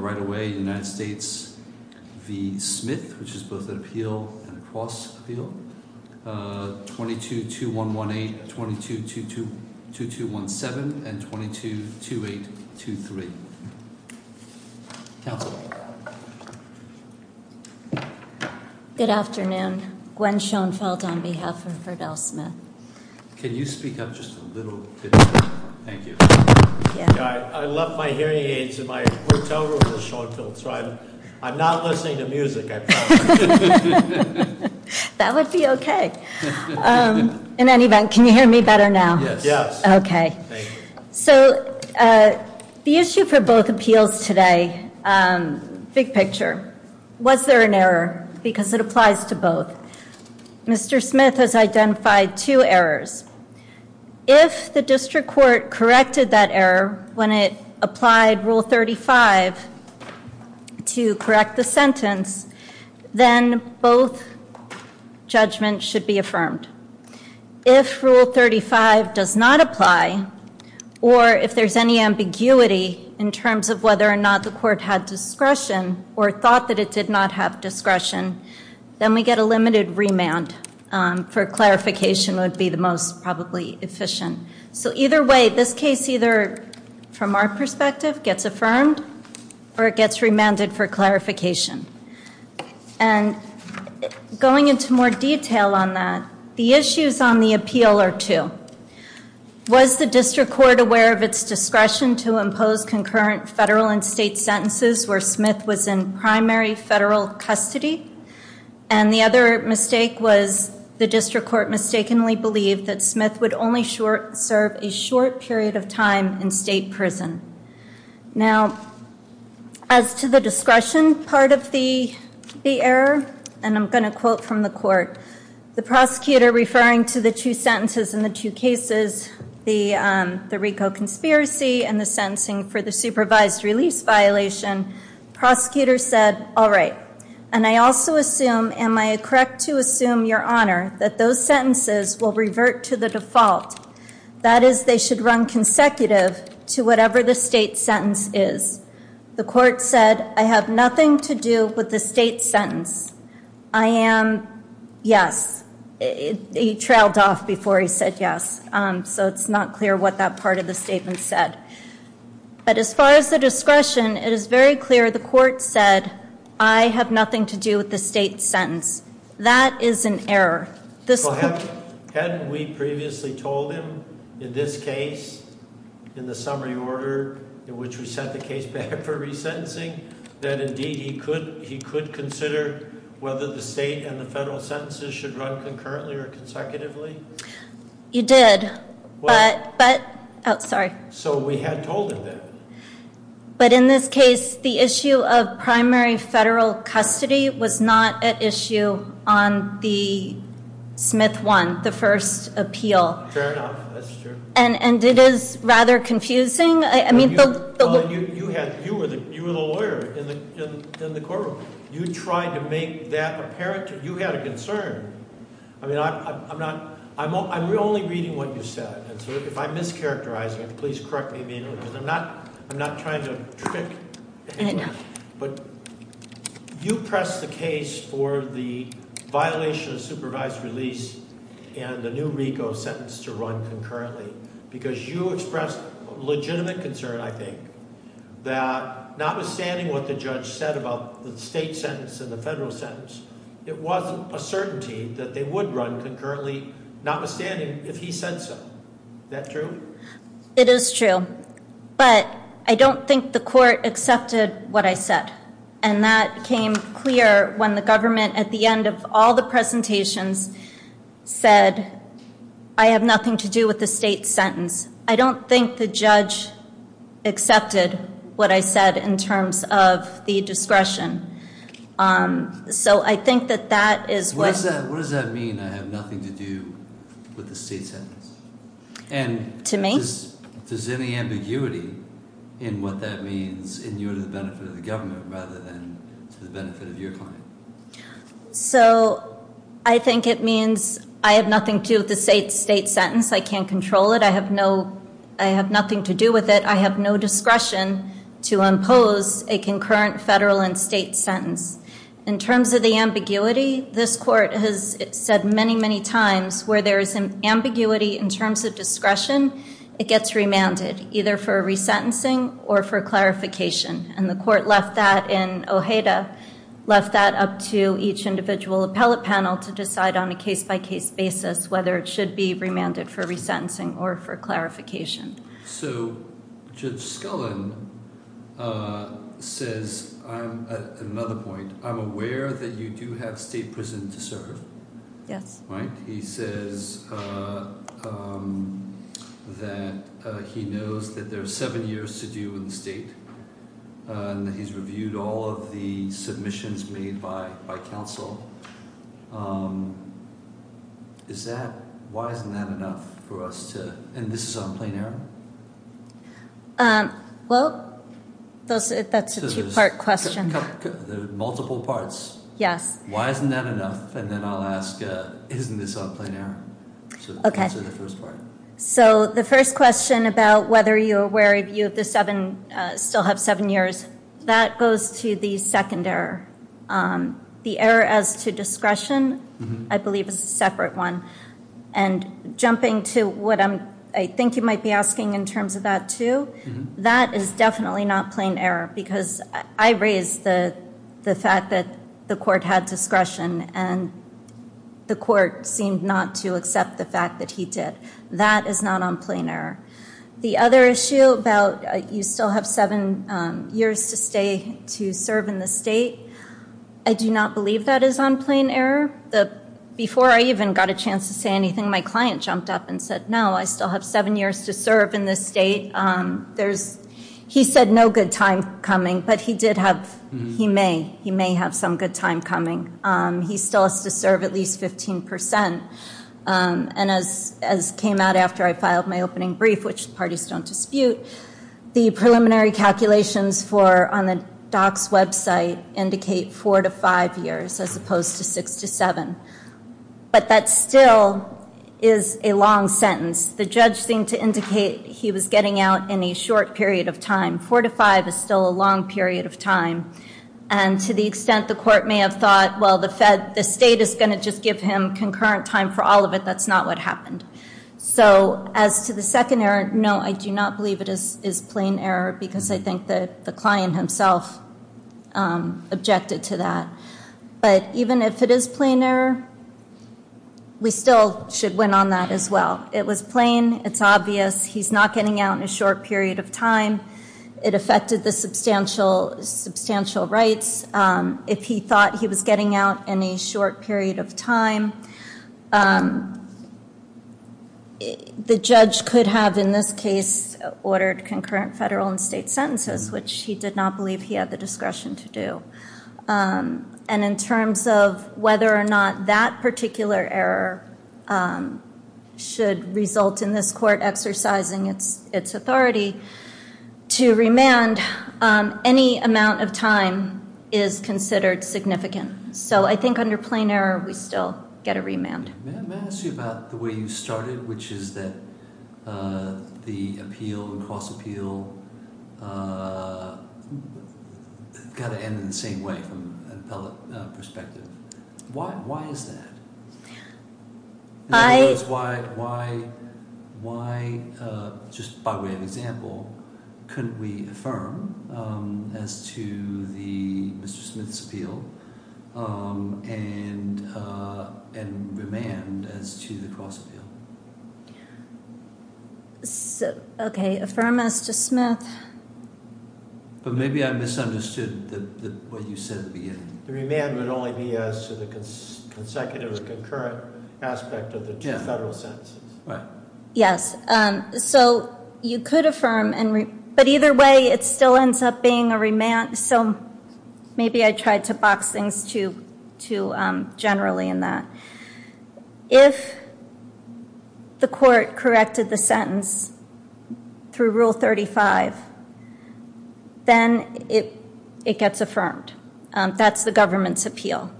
Right-of-way, United States v. Smith, which is both an appeal and a cross-appeal. 22-2118, 22-2217, and 22-2823. Counselor. Good afternoon. Gwen Schoenfeld on behalf of Verdell Smith. Can you speak up just a little bit? Thank you. I left my hearing aids in my hotel room with Schoenfeld, so I'm not listening to music. That would be okay. In any event, can you hear me better now? Yes. Okay. So the issue for both appeals today, big picture. Was there an error? Because it applies to both. Mr. Smith has identified two errors. If the district court corrected that error when it applied Rule 35 to correct the sentence, then both judgments should be affirmed. If Rule 35 does not apply, or if there's any ambiguity in terms of whether or not the court had discretion or thought that it did not have discretion, then we get a limited remand for clarification would be the most probably efficient. So either way, this case either, from our perspective, gets affirmed or it gets remanded for clarification. And going into more state sentences where Smith was in primary federal custody. And the other mistake was the district court mistakenly believed that Smith would only serve a short period of time in state prison. Now, as to the discretion part of the error, and I'm going to quote from the court, the prosecutor referring to the two sentences in the two cases, the RICO conspiracy and the sentencing for the supervised release violation, prosecutor said, all right. And I also assume, am I correct to assume, your honor, that those sentences will revert to the default? That is, they should run consecutive to whatever the state sentence is. The court said, I have nothing to do with the state sentence. I am, yes. He trailed off before he said yes. So it's not clear what that part of the statement said. But as far as the discretion, it is very clear the court said, I have nothing to do with the state sentence. That is an error. Hadn't we previously told him in this case, in the summary order in which we sent the case back for resentencing, that indeed he could consider whether the state and the federal sentences should run concurrently or consecutively? You did. But, oh, sorry. So we had told him that. But in this case, the issue of primary federal custody was not at issue on the Smith one, the first appeal. Fair enough, that's true. And it is rather confusing. Well, you were the lawyer in the courtroom. You tried to make that apparent. You had a concern. I mean, I'm only reading what you said. And so if I'm mischaracterizing it, please correct me immediately because I'm not trying to trick anyone. But you pressed the case for the violation of supervised release and the new RICO sentence to run concurrently because you expressed legitimate concern, I think, that notwithstanding what the judge said about the state sentence and the federal sentence, it wasn't a certainty that they would run concurrently, notwithstanding if he said so. Is that true? It is true. But I don't think the court accepted what I said. And that became clear when the government, at the end of all the presentations, said, I have nothing to do with the state sentence. I don't think the judge accepted what I said in terms of the discretion. So I think that that is what— What does that mean, I have nothing to do with the state sentence? To me. Does any ambiguity in what that means in your benefit of the government rather than to the benefit of your client? So I think it means I have nothing to do with the state sentence. I can't control it. I have no—I have nothing to do with it. I have no discretion to impose a concurrent federal and state sentence. In terms of the ambiguity, this court has said many, many times where there is an ambiguity in terms of discretion, it gets remanded, either for resentencing or for clarification. And the court left that in Ojeda, left that up to each individual appellate panel to decide on a case-by-case basis whether it should be remanded for resentencing or for clarification. So Judge Scullin says—another point—I'm aware that you do have state prison to serve. Yes. He says that he knows that there's seven years to do in the state, and that he's reviewed all of the submissions made by counsel. Is that—why isn't that enough for us to—and this is on plain error? Well, that's a two-part question. Multiple parts. Yes. Why isn't that enough? And then I'll ask, isn't this on plain error? Okay. So the first part. So the first question about whether you're aware if you have the seven—still have seven years, that goes to the second error. The error as to discretion, I believe, is a separate one. And jumping to what I think you might be asking in terms of that, too, that is definitely not plain error, because I raised the fact that the court had discretion, and the court seemed not to accept the fact that he did. That is not on plain error. The other issue about you still have seven years to stay—to serve in the state, I do not believe that is on plain error. The—before I even got a chance to say anything, my client jumped up and said, no, I still have seven years to serve in this state. There's—he said no good time coming, but he did have—he may—he may have some good time coming. He still has to serve at least 15 percent. And as came out after I filed my opening brief, which parties don't dispute, the preliminary calculations for—on the DOC's website indicate four to five years as opposed to six to seven. But that still is a long sentence. The judge seemed to indicate he was getting out in a short period of time. Four to five is still a long period of time. And to the extent the court may have thought, well, the fed—the state is going to just give him concurrent time for all of it, that's not what happened. So as to the second error, no, I do not believe it is plain error, because I think that the client himself objected to that. But even if it is plain error, we still should win on that as well. It was plain. It's obvious. He's not getting out in a short period of time. It affected the substantial—substantial rights. If he thought he was getting out in a short period of time, the judge could have, in this case, ordered concurrent federal and state sentences, which he did not believe he had the discretion to do. And in terms of whether or not that particular error should result in this court exercising its authority to remand, any amount of time is considered significant. So I think under plain error, we still get a remand. Let me ask you about the way you started, which is that the appeal and cross-appeal got to end in the same way from an appellate perspective. Why is that? I— Why—just by way of example, couldn't we affirm as to Mr. Smith's appeal and remand as to the cross-appeal? Okay, affirm as to Smith. But maybe I misunderstood what you said at the beginning. The remand would only be as to the consecutive or concurrent aspect of the two federal sentences. Right. Yes. So you could affirm and—but either way, it still ends up being a remand. So maybe I tried to box things too generally in that. If the court corrected the sentence through Rule 35, then it gets affirmed. That's the government's appeal.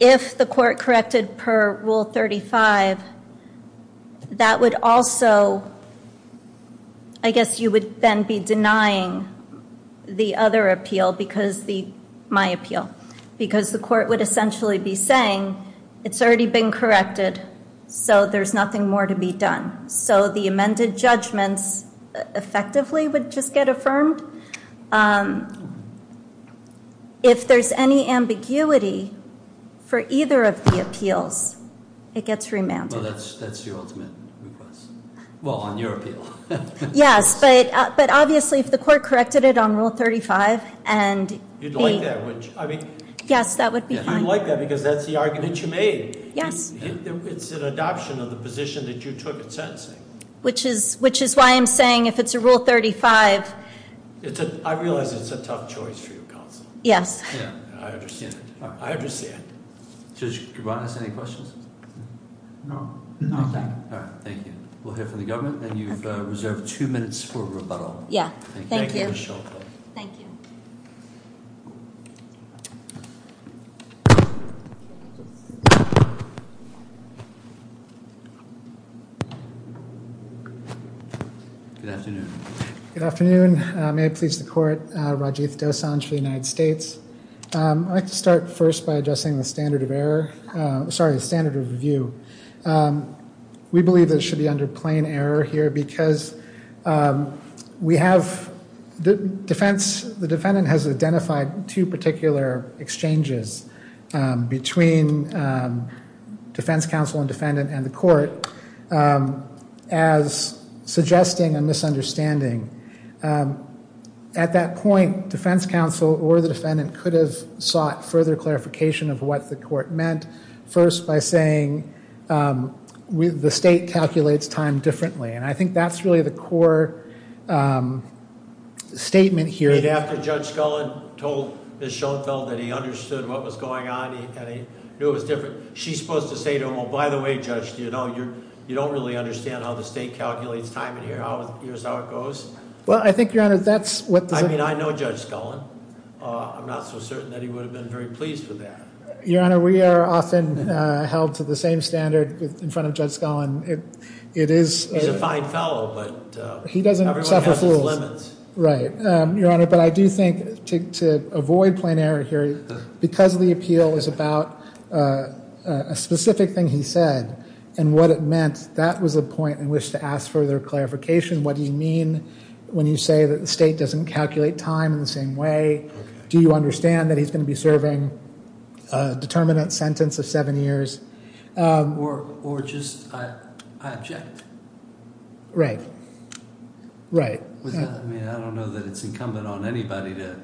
If the court corrected per Rule 35, that would also—I guess you would then be denying the other appeal because the—my appeal. Because the court would essentially be saying, it's already been corrected, so there's nothing more to be done. So the amended judgments effectively would just get affirmed. If there's any ambiguity for either of the appeals, it gets remanded. Well, that's your ultimate request. Well, on your appeal. Yes, but obviously if the court corrected it on Rule 35 and— You'd like that, wouldn't you? Yes, that would be fine. You'd like that because that's the argument you made. Yes. It's an adoption of the position that you took in sentencing. Which is why I'm saying if it's a Rule 35— I realize it's a tough choice for you, Counsel. Yes. I understand. Judge Gervantes, any questions? No. All right, thank you. We'll hear from the government, and you've reserved two minutes for rebuttal. Yeah, thank you. Thank you, Michelle. Thank you. Good afternoon. Good afternoon. May it please the Court. Rajiv Dosanjh for the United States. I'd like to start first by addressing the standard of error— sorry, the standard of review. We believe that it should be under plain error here because we have— between defense counsel and defendant and the court as suggesting a misunderstanding. At that point, defense counsel or the defendant could have sought further clarification of what the court meant. First, by saying the state calculates time differently. And I think that's really the core statement here. After Judge Scullin told Ms. Schoenfeld that he understood what was going on and he knew it was different, she's supposed to say to him, by the way, Judge, you don't really understand how the state calculates time and here's how it goes? Well, I think, Your Honor, that's what— I mean, I know Judge Scullin. I'm not so certain that he would have been very pleased with that. Your Honor, we are often held to the same standard in front of Judge Scullin. It is— He's a fine fellow, but— He doesn't suffer fools. Everyone has their limits. Right. Your Honor, but I do think to avoid plain error here, because the appeal is about a specific thing he said and what it meant, that was the point in which to ask further clarification. What do you mean when you say that the state doesn't calculate time in the same way? Do you understand that he's going to be serving a determinant sentence of seven years? Or just, I object. Right. Right. I mean, I don't know that it's incumbent on anybody to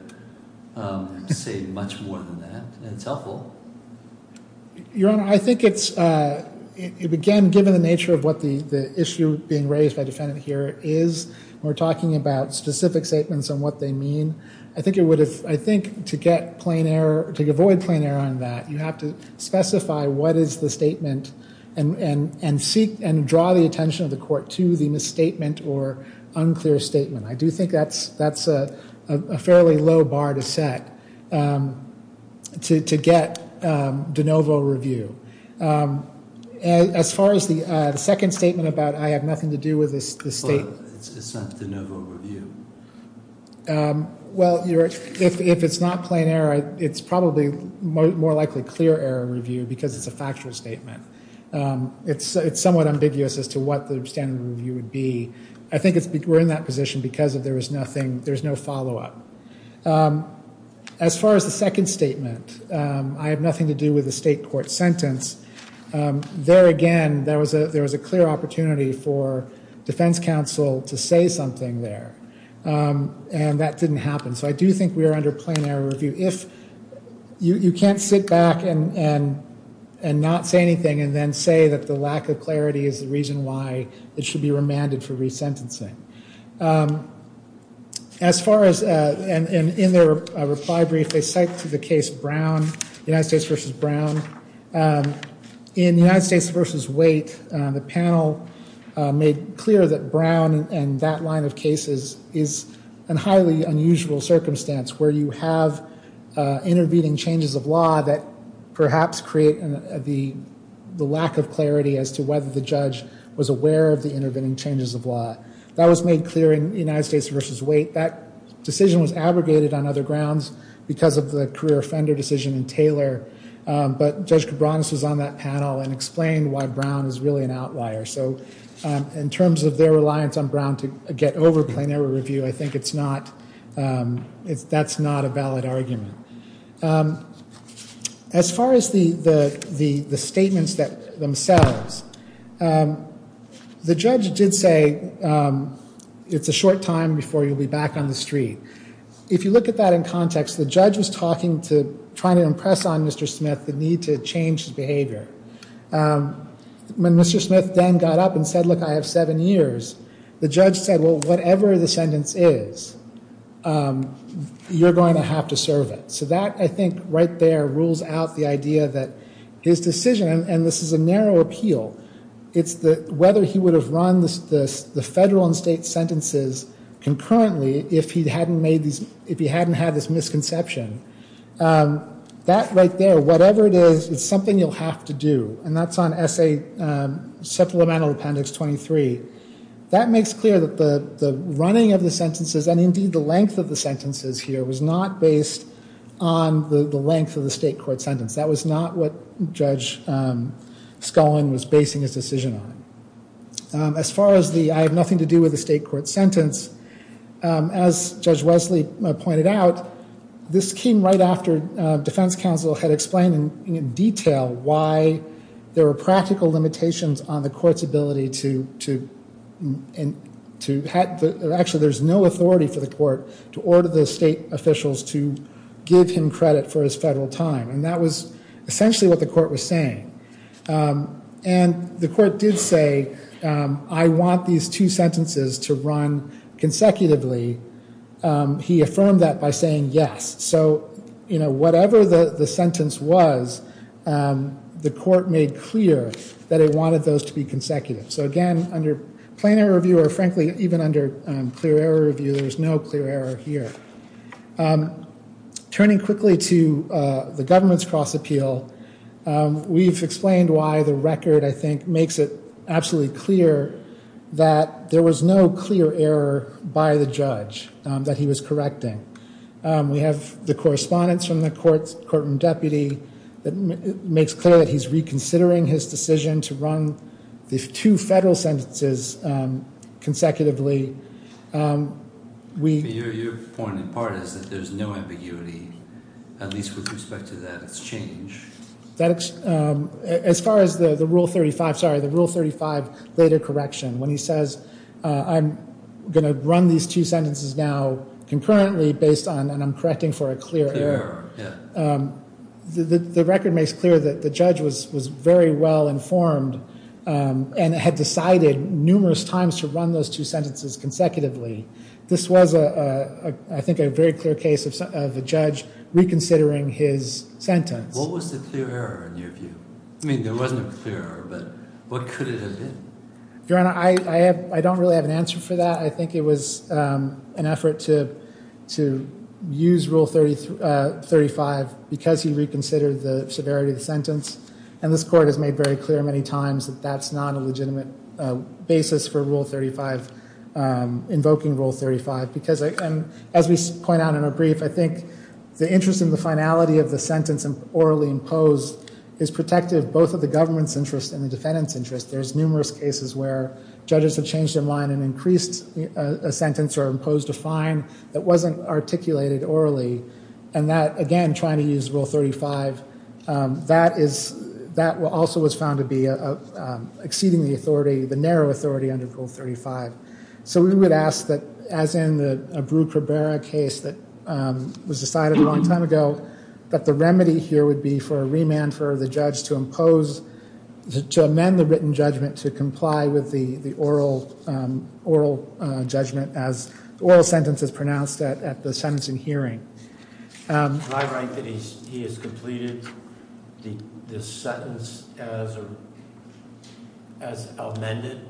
say much more than that. It's helpful. Your Honor, I think it's— Again, given the nature of what the issue being raised by the defendant here is, we're talking about specific statements and what they mean. I think it would have— I think to get plain error, to avoid plain error on that, you have to specify what is the statement and seek and draw the attention of the court to the misstatement or unclear statement. I do think that's a fairly low bar to set to get de novo review. As far as the second statement about I have nothing to do with this statement— It's not de novo review. Well, if it's not plain error, it's probably more likely clear error review because it's a factual statement. It's somewhat ambiguous as to what the standard review would be. I think we're in that position because there's no follow-up. As far as the second statement, I have nothing to do with the state court sentence. There again, there was a clear opportunity for defense counsel to say something there. And that didn't happen. So I do think we are under plain error review. You can't sit back and not say anything and then say that the lack of clarity is the reason why it should be remanded for resentencing. As far as—and in their reply brief, they cite to the case Brown, United States v. Brown. In United States v. Waite, the panel made clear that Brown and that line of cases is a highly unusual circumstance where you have intervening changes of law that perhaps create the lack of clarity as to whether the judge was aware of the intervening changes of law. That was made clear in United States v. Waite. That decision was abrogated on other grounds because of the career offender decision in Taylor. But Judge Cabranes was on that panel and explained why Brown is really an outlier. So in terms of their reliance on Brown to get over plain error review, I think it's not—that's not a valid argument. As far as the statements themselves, the judge did say it's a short time before you'll be back on the street. If you look at that in context, the judge was talking to—trying to impress on Mr. Smith the need to change his behavior. When Mr. Smith then got up and said, look, I have seven years, the judge said, well, whatever the sentence is, you're going to have to serve it. So that, I think, right there rules out the idea that his decision—and this is a narrow appeal— it's whether he would have run the federal and state sentences concurrently if he hadn't made these—if he hadn't had this misconception. That right there, whatever it is, it's something you'll have to do. And that's on Essay—Supplemental Appendix 23. That makes clear that the running of the sentences, and indeed the length of the sentences here, was not based on the length of the state court sentence. That was not what Judge Scullin was basing his decision on. As far as the I have nothing to do with the state court sentence, as Judge Wesley pointed out, this came right after defense counsel had explained in detail why there were practical limitations on the court's ability to—actually, there's no authority for the court to order the state officials to give him credit for his federal time. And that was essentially what the court was saying. And the court did say, I want these two sentences to run consecutively. He affirmed that by saying yes. So, you know, whatever the sentence was, the court made clear that it wanted those to be consecutive. So again, under plain error review, or frankly, even under clear error review, there's no clear error here. Turning quickly to the government's cross-appeal, we've explained why the record, I think, makes it absolutely clear that there was no clear error by the judge that he was correcting. We have the correspondence from the courtroom deputy that makes clear that he's reconsidering his decision to run these two federal sentences consecutively. Your point in part is that there's no ambiguity, at least with respect to that exchange. As far as the Rule 35—sorry, the Rule 35 later correction, when he says, I'm going to run these two sentences now concurrently based on—and I'm correcting for a clear error. The record makes clear that the judge was very well informed and had decided numerous times to run those two sentences consecutively. This was, I think, a very clear case of a judge reconsidering his sentence. What was the clear error in your view? I mean, there was no clear error, but what could it have been? Your Honor, I don't really have an answer for that. I think it was an effort to use Rule 35 because he reconsidered the severity of the sentence. And this Court has made very clear many times that that's not a legitimate basis for Rule 35, invoking Rule 35. As we point out in our brief, I think the interest in the finality of the sentence orally imposed is protective both of the government's interest and the defendant's interest. There's numerous cases where judges have changed their mind and increased a sentence or imposed a fine that wasn't articulated orally. And that, again, trying to use Rule 35, that also was found to be exceeding the authority, the narrow authority under Rule 35. So we would ask that, as in the Brewer-Cabrera case that was decided a long time ago, that the remedy here would be for a remand for the judge to impose, to amend the written judgment to comply with the oral judgment as the oral sentence is pronounced at the sentencing hearing. Am I right that he has completed the sentence as amended?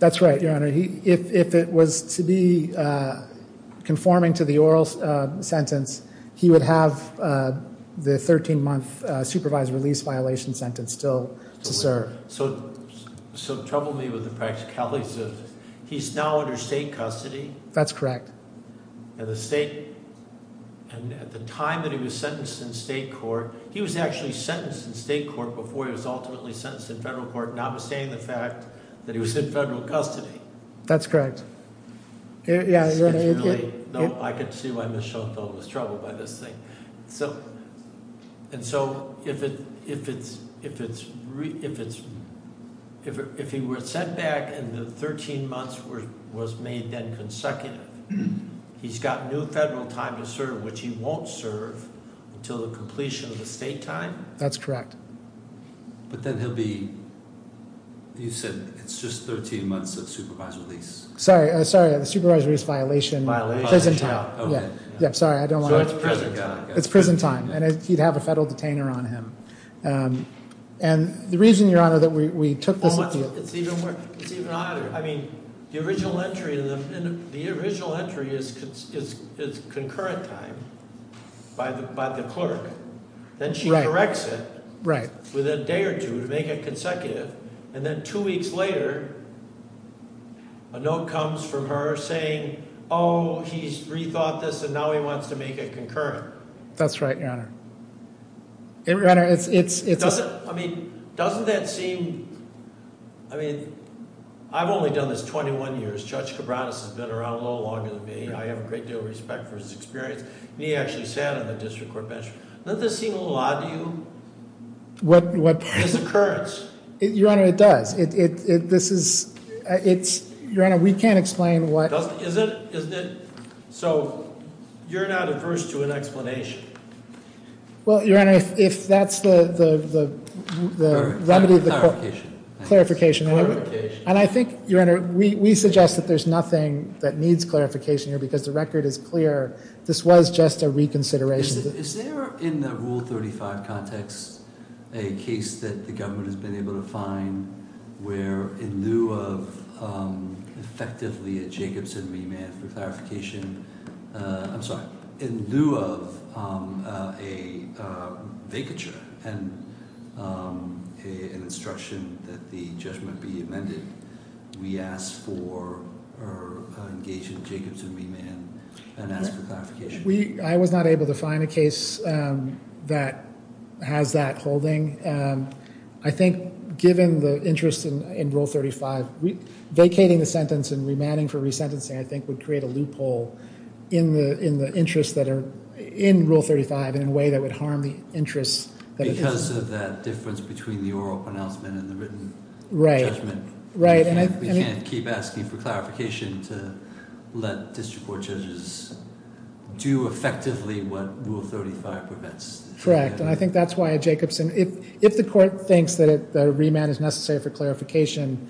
That's right, Your Honor. If it was to be conforming to the oral sentence, he would have the 13-month supervised release violation sentence still to serve. So trouble me with the practicalities of this. He's now under state custody? That's correct. At the time that he was sentenced in state court, he was actually sentenced in state court before he was ultimately sentenced in federal court, notwithstanding the fact that he was in federal custody. That's correct. No, I can see why Ms. Schultz was troubled by this thing. And so if he were sent back and the 13 months was made then consecutive, he's got new federal time to serve, which he won't serve until the completion of the state time? That's correct. But then he'll be, you said it's just 13 months of supervised release. Sorry, the supervised release violation is prison time. Sorry, I don't want to. It's prison time. It's prison time. And he'd have a federal detainer on him. And the reason, Your Honor, that we took this issue. It's even harder. I mean, the original entry is concurrent time by the clerk. Then she corrects it within a day or two to make it consecutive. And then two weeks later, a note comes from her saying, oh, he's rethought this, and now he wants to make it concurrent. That's right, Your Honor. Doesn't that seem, I mean, I've only done this 21 years. Judge Cabranes has been around a little longer than me. I have a great deal of respect for his experience. And he actually sat on the district court bench. Doesn't this seem a little odd to you? What? This occurrence. Your Honor, it does. Your Honor, we can't explain what. So you're not averse to an explanation? Well, Your Honor, if that's the remedy of the court. Clarification. Clarification. And I think, Your Honor, we suggest that there's nothing that needs clarification here because the record is clear. This was just a reconsideration. Is there in the Rule 35 context a case that the government has been able to find where, in lieu of effectively a Jacobson remand for clarification, I'm sorry, in lieu of a vacature and an instruction that the judgment be amended, we ask for or engage in Jacobson remand and ask for clarification? I was not able to find a case that has that holding. I think given the interest in Rule 35, vacating the sentence and remanding for resentencing, I think, would create a loophole in the interests that are in Rule 35 in a way that would harm the interests. Because of that difference between the oral pronouncement and the written judgment. Right. We can't keep asking for clarification to let district court judges do effectively what Rule 35 prevents. Correct. And I think that's why a Jacobson, if the court thinks that a remand is necessary for clarification,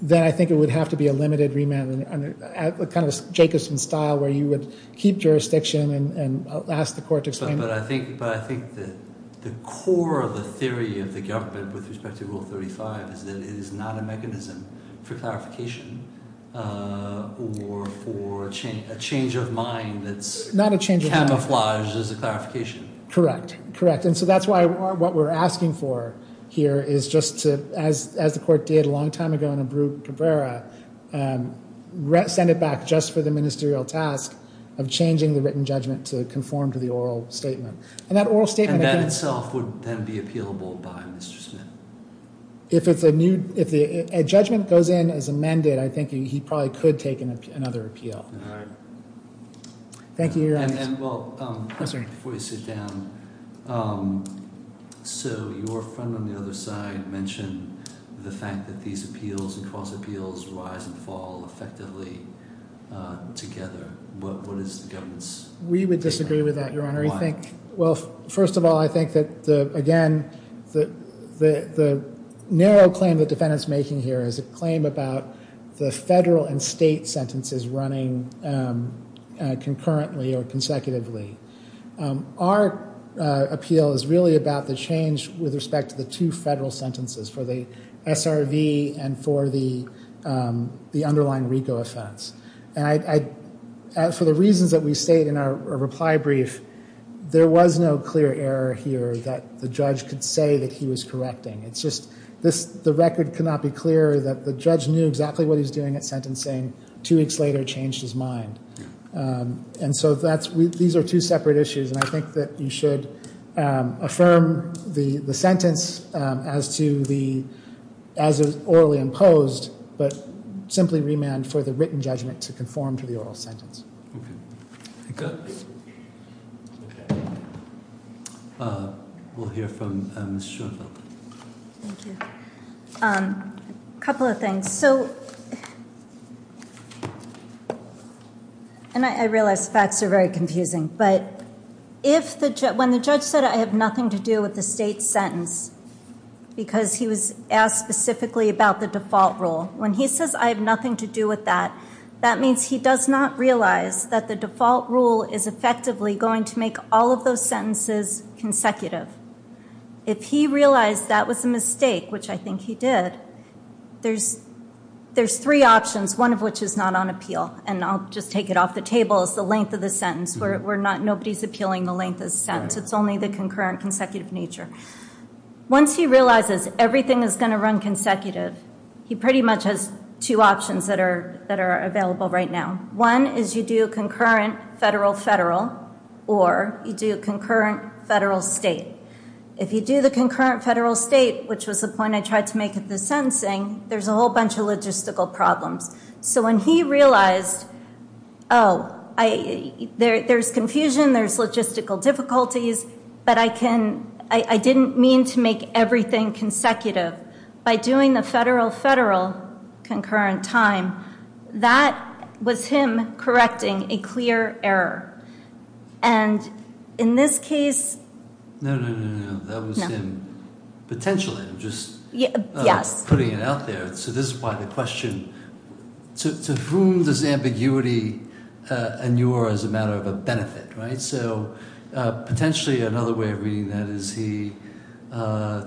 then I think it would have to be a limited remand, kind of a Jacobson style where you would keep jurisdiction and ask the court to explain it. But I think the core of the theory of the government with respect to Rule 35 is that it is not a mechanism for clarification or for a change of mind that's camouflaged as a clarification. Correct. Correct. And so that's why what we're asking for here is just to, as the court did a long time ago in Cabrera, send it back just for the ministerial task of changing the written judgment to conform to the oral statement. And that oral statement. And that itself would then be appealable by Mr. Smith. If a judgment goes in as amended, I think he probably could take another appeal. All right. Thank you. And, well, before you sit down, so your friend on the other side mentioned the fact that these appeals and cross appeals rise and fall effectively together. What is the government's? We would disagree with that, Your Honor. Why? Well, first of all, I think that, again, the narrow claim the defendant's making here is a claim about the federal and state sentences running concurrently or consecutively. Our appeal is really about the change with respect to the two federal sentences for the SRV and for the underlying RICO offense. And for the reasons that we state in our reply brief, there was no clear error here that the judge could say that he was correcting. It's just the record could not be clearer that the judge knew exactly what he was doing at sentencing, two weeks later changed his mind. And so these are two separate issues. And I think that you should affirm the sentence as to the, as it was orally imposed, but simply remand for the written judgment to conform to the oral sentence. Okay. Thank you. We'll hear from Ms. Schoenfeld. Thank you. A couple of things. So, and I realize facts are very confusing, but when the judge said I have nothing to do with the state's sentence because he was asked specifically about the default rule, when he says I have nothing to do with that, that means he does not realize that the default rule is effectively going to make all of those sentences consecutive. If he realized that was a mistake, which I think he did, there's three options, one of which is not on appeal. And I'll just take it off the table as the length of the sentence. We're not, nobody's appealing the length of the sentence. It's only the concurrent consecutive nature. Once he realizes everything is going to run consecutive, he pretty much has two options that are available right now. One is you do a concurrent federal-federal or you do a concurrent federal-state. If you do the concurrent federal-state, which was the point I tried to make at the sentencing, there's a whole bunch of logistical problems. So when he realized, oh, there's confusion, there's logistical difficulties, but I can, I didn't mean to make everything consecutive. By doing the federal-federal concurrent time, that was him correcting a clear error. And in this case. No, no, no, no, no. That was him potentially just putting it out there. So this is why the question, to whom does ambiguity inure as a matter of a benefit, right? So potentially another way of reading that is he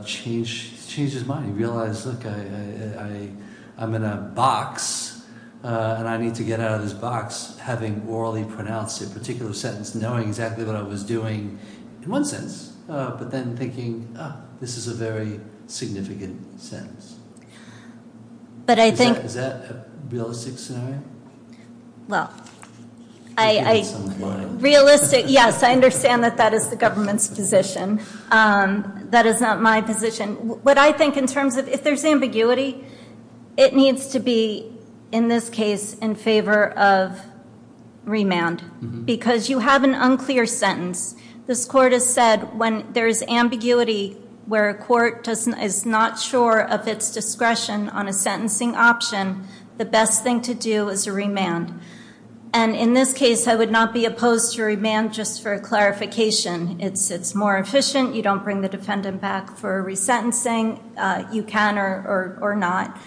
changed his mind. He realized, look, I'm in a box and I need to get out of this box, having orally pronounced a particular sentence, knowing exactly what I was doing in one sense, but then thinking, oh, this is a very significant sentence. Is that a realistic scenario? Well, realistic, yes, I understand that that is the government's position. That is not my position. What I think in terms of if there's ambiguity, it needs to be, in this case, in favor of remand. Because you have an unclear sentence. This court has said when there's ambiguity where a court is not sure of its discretion on a sentencing option, the best thing to do is a remand. And in this case, I would not be opposed to remand just for clarification. It's more efficient. You don't bring the defendant back for resentencing. You can or not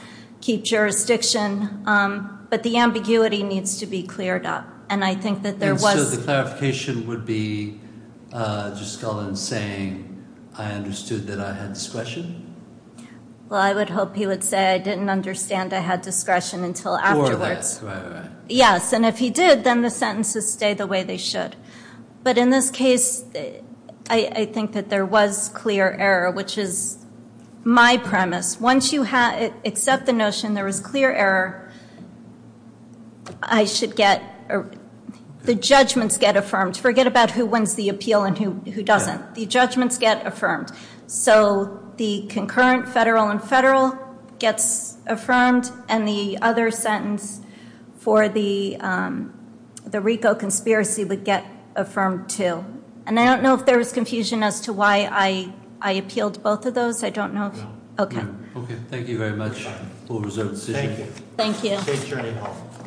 keep jurisdiction. But the ambiguity needs to be cleared up. And I think that there was ‑‑ And so the clarification would be just going and saying, I understood that I had discretion? Well, I would hope he would say I didn't understand I had discretion until afterwards. Before that, right, right. Yes, and if he did, then the sentences stay the way they should. But in this case, I think that there was clear error, which is my premise. Once you accept the notion there was clear error, I should get ‑‑ the judgments get affirmed. Forget about who wins the appeal and who doesn't. The judgments get affirmed. So the concurrent federal and federal gets affirmed. And the other sentence for the RICO conspiracy would get affirmed too. And I don't know if there was confusion as to why I appealed both of those. I don't know. Okay. Okay. Thank you very much. Thank you. Thank you. Safe journey home. Thank you.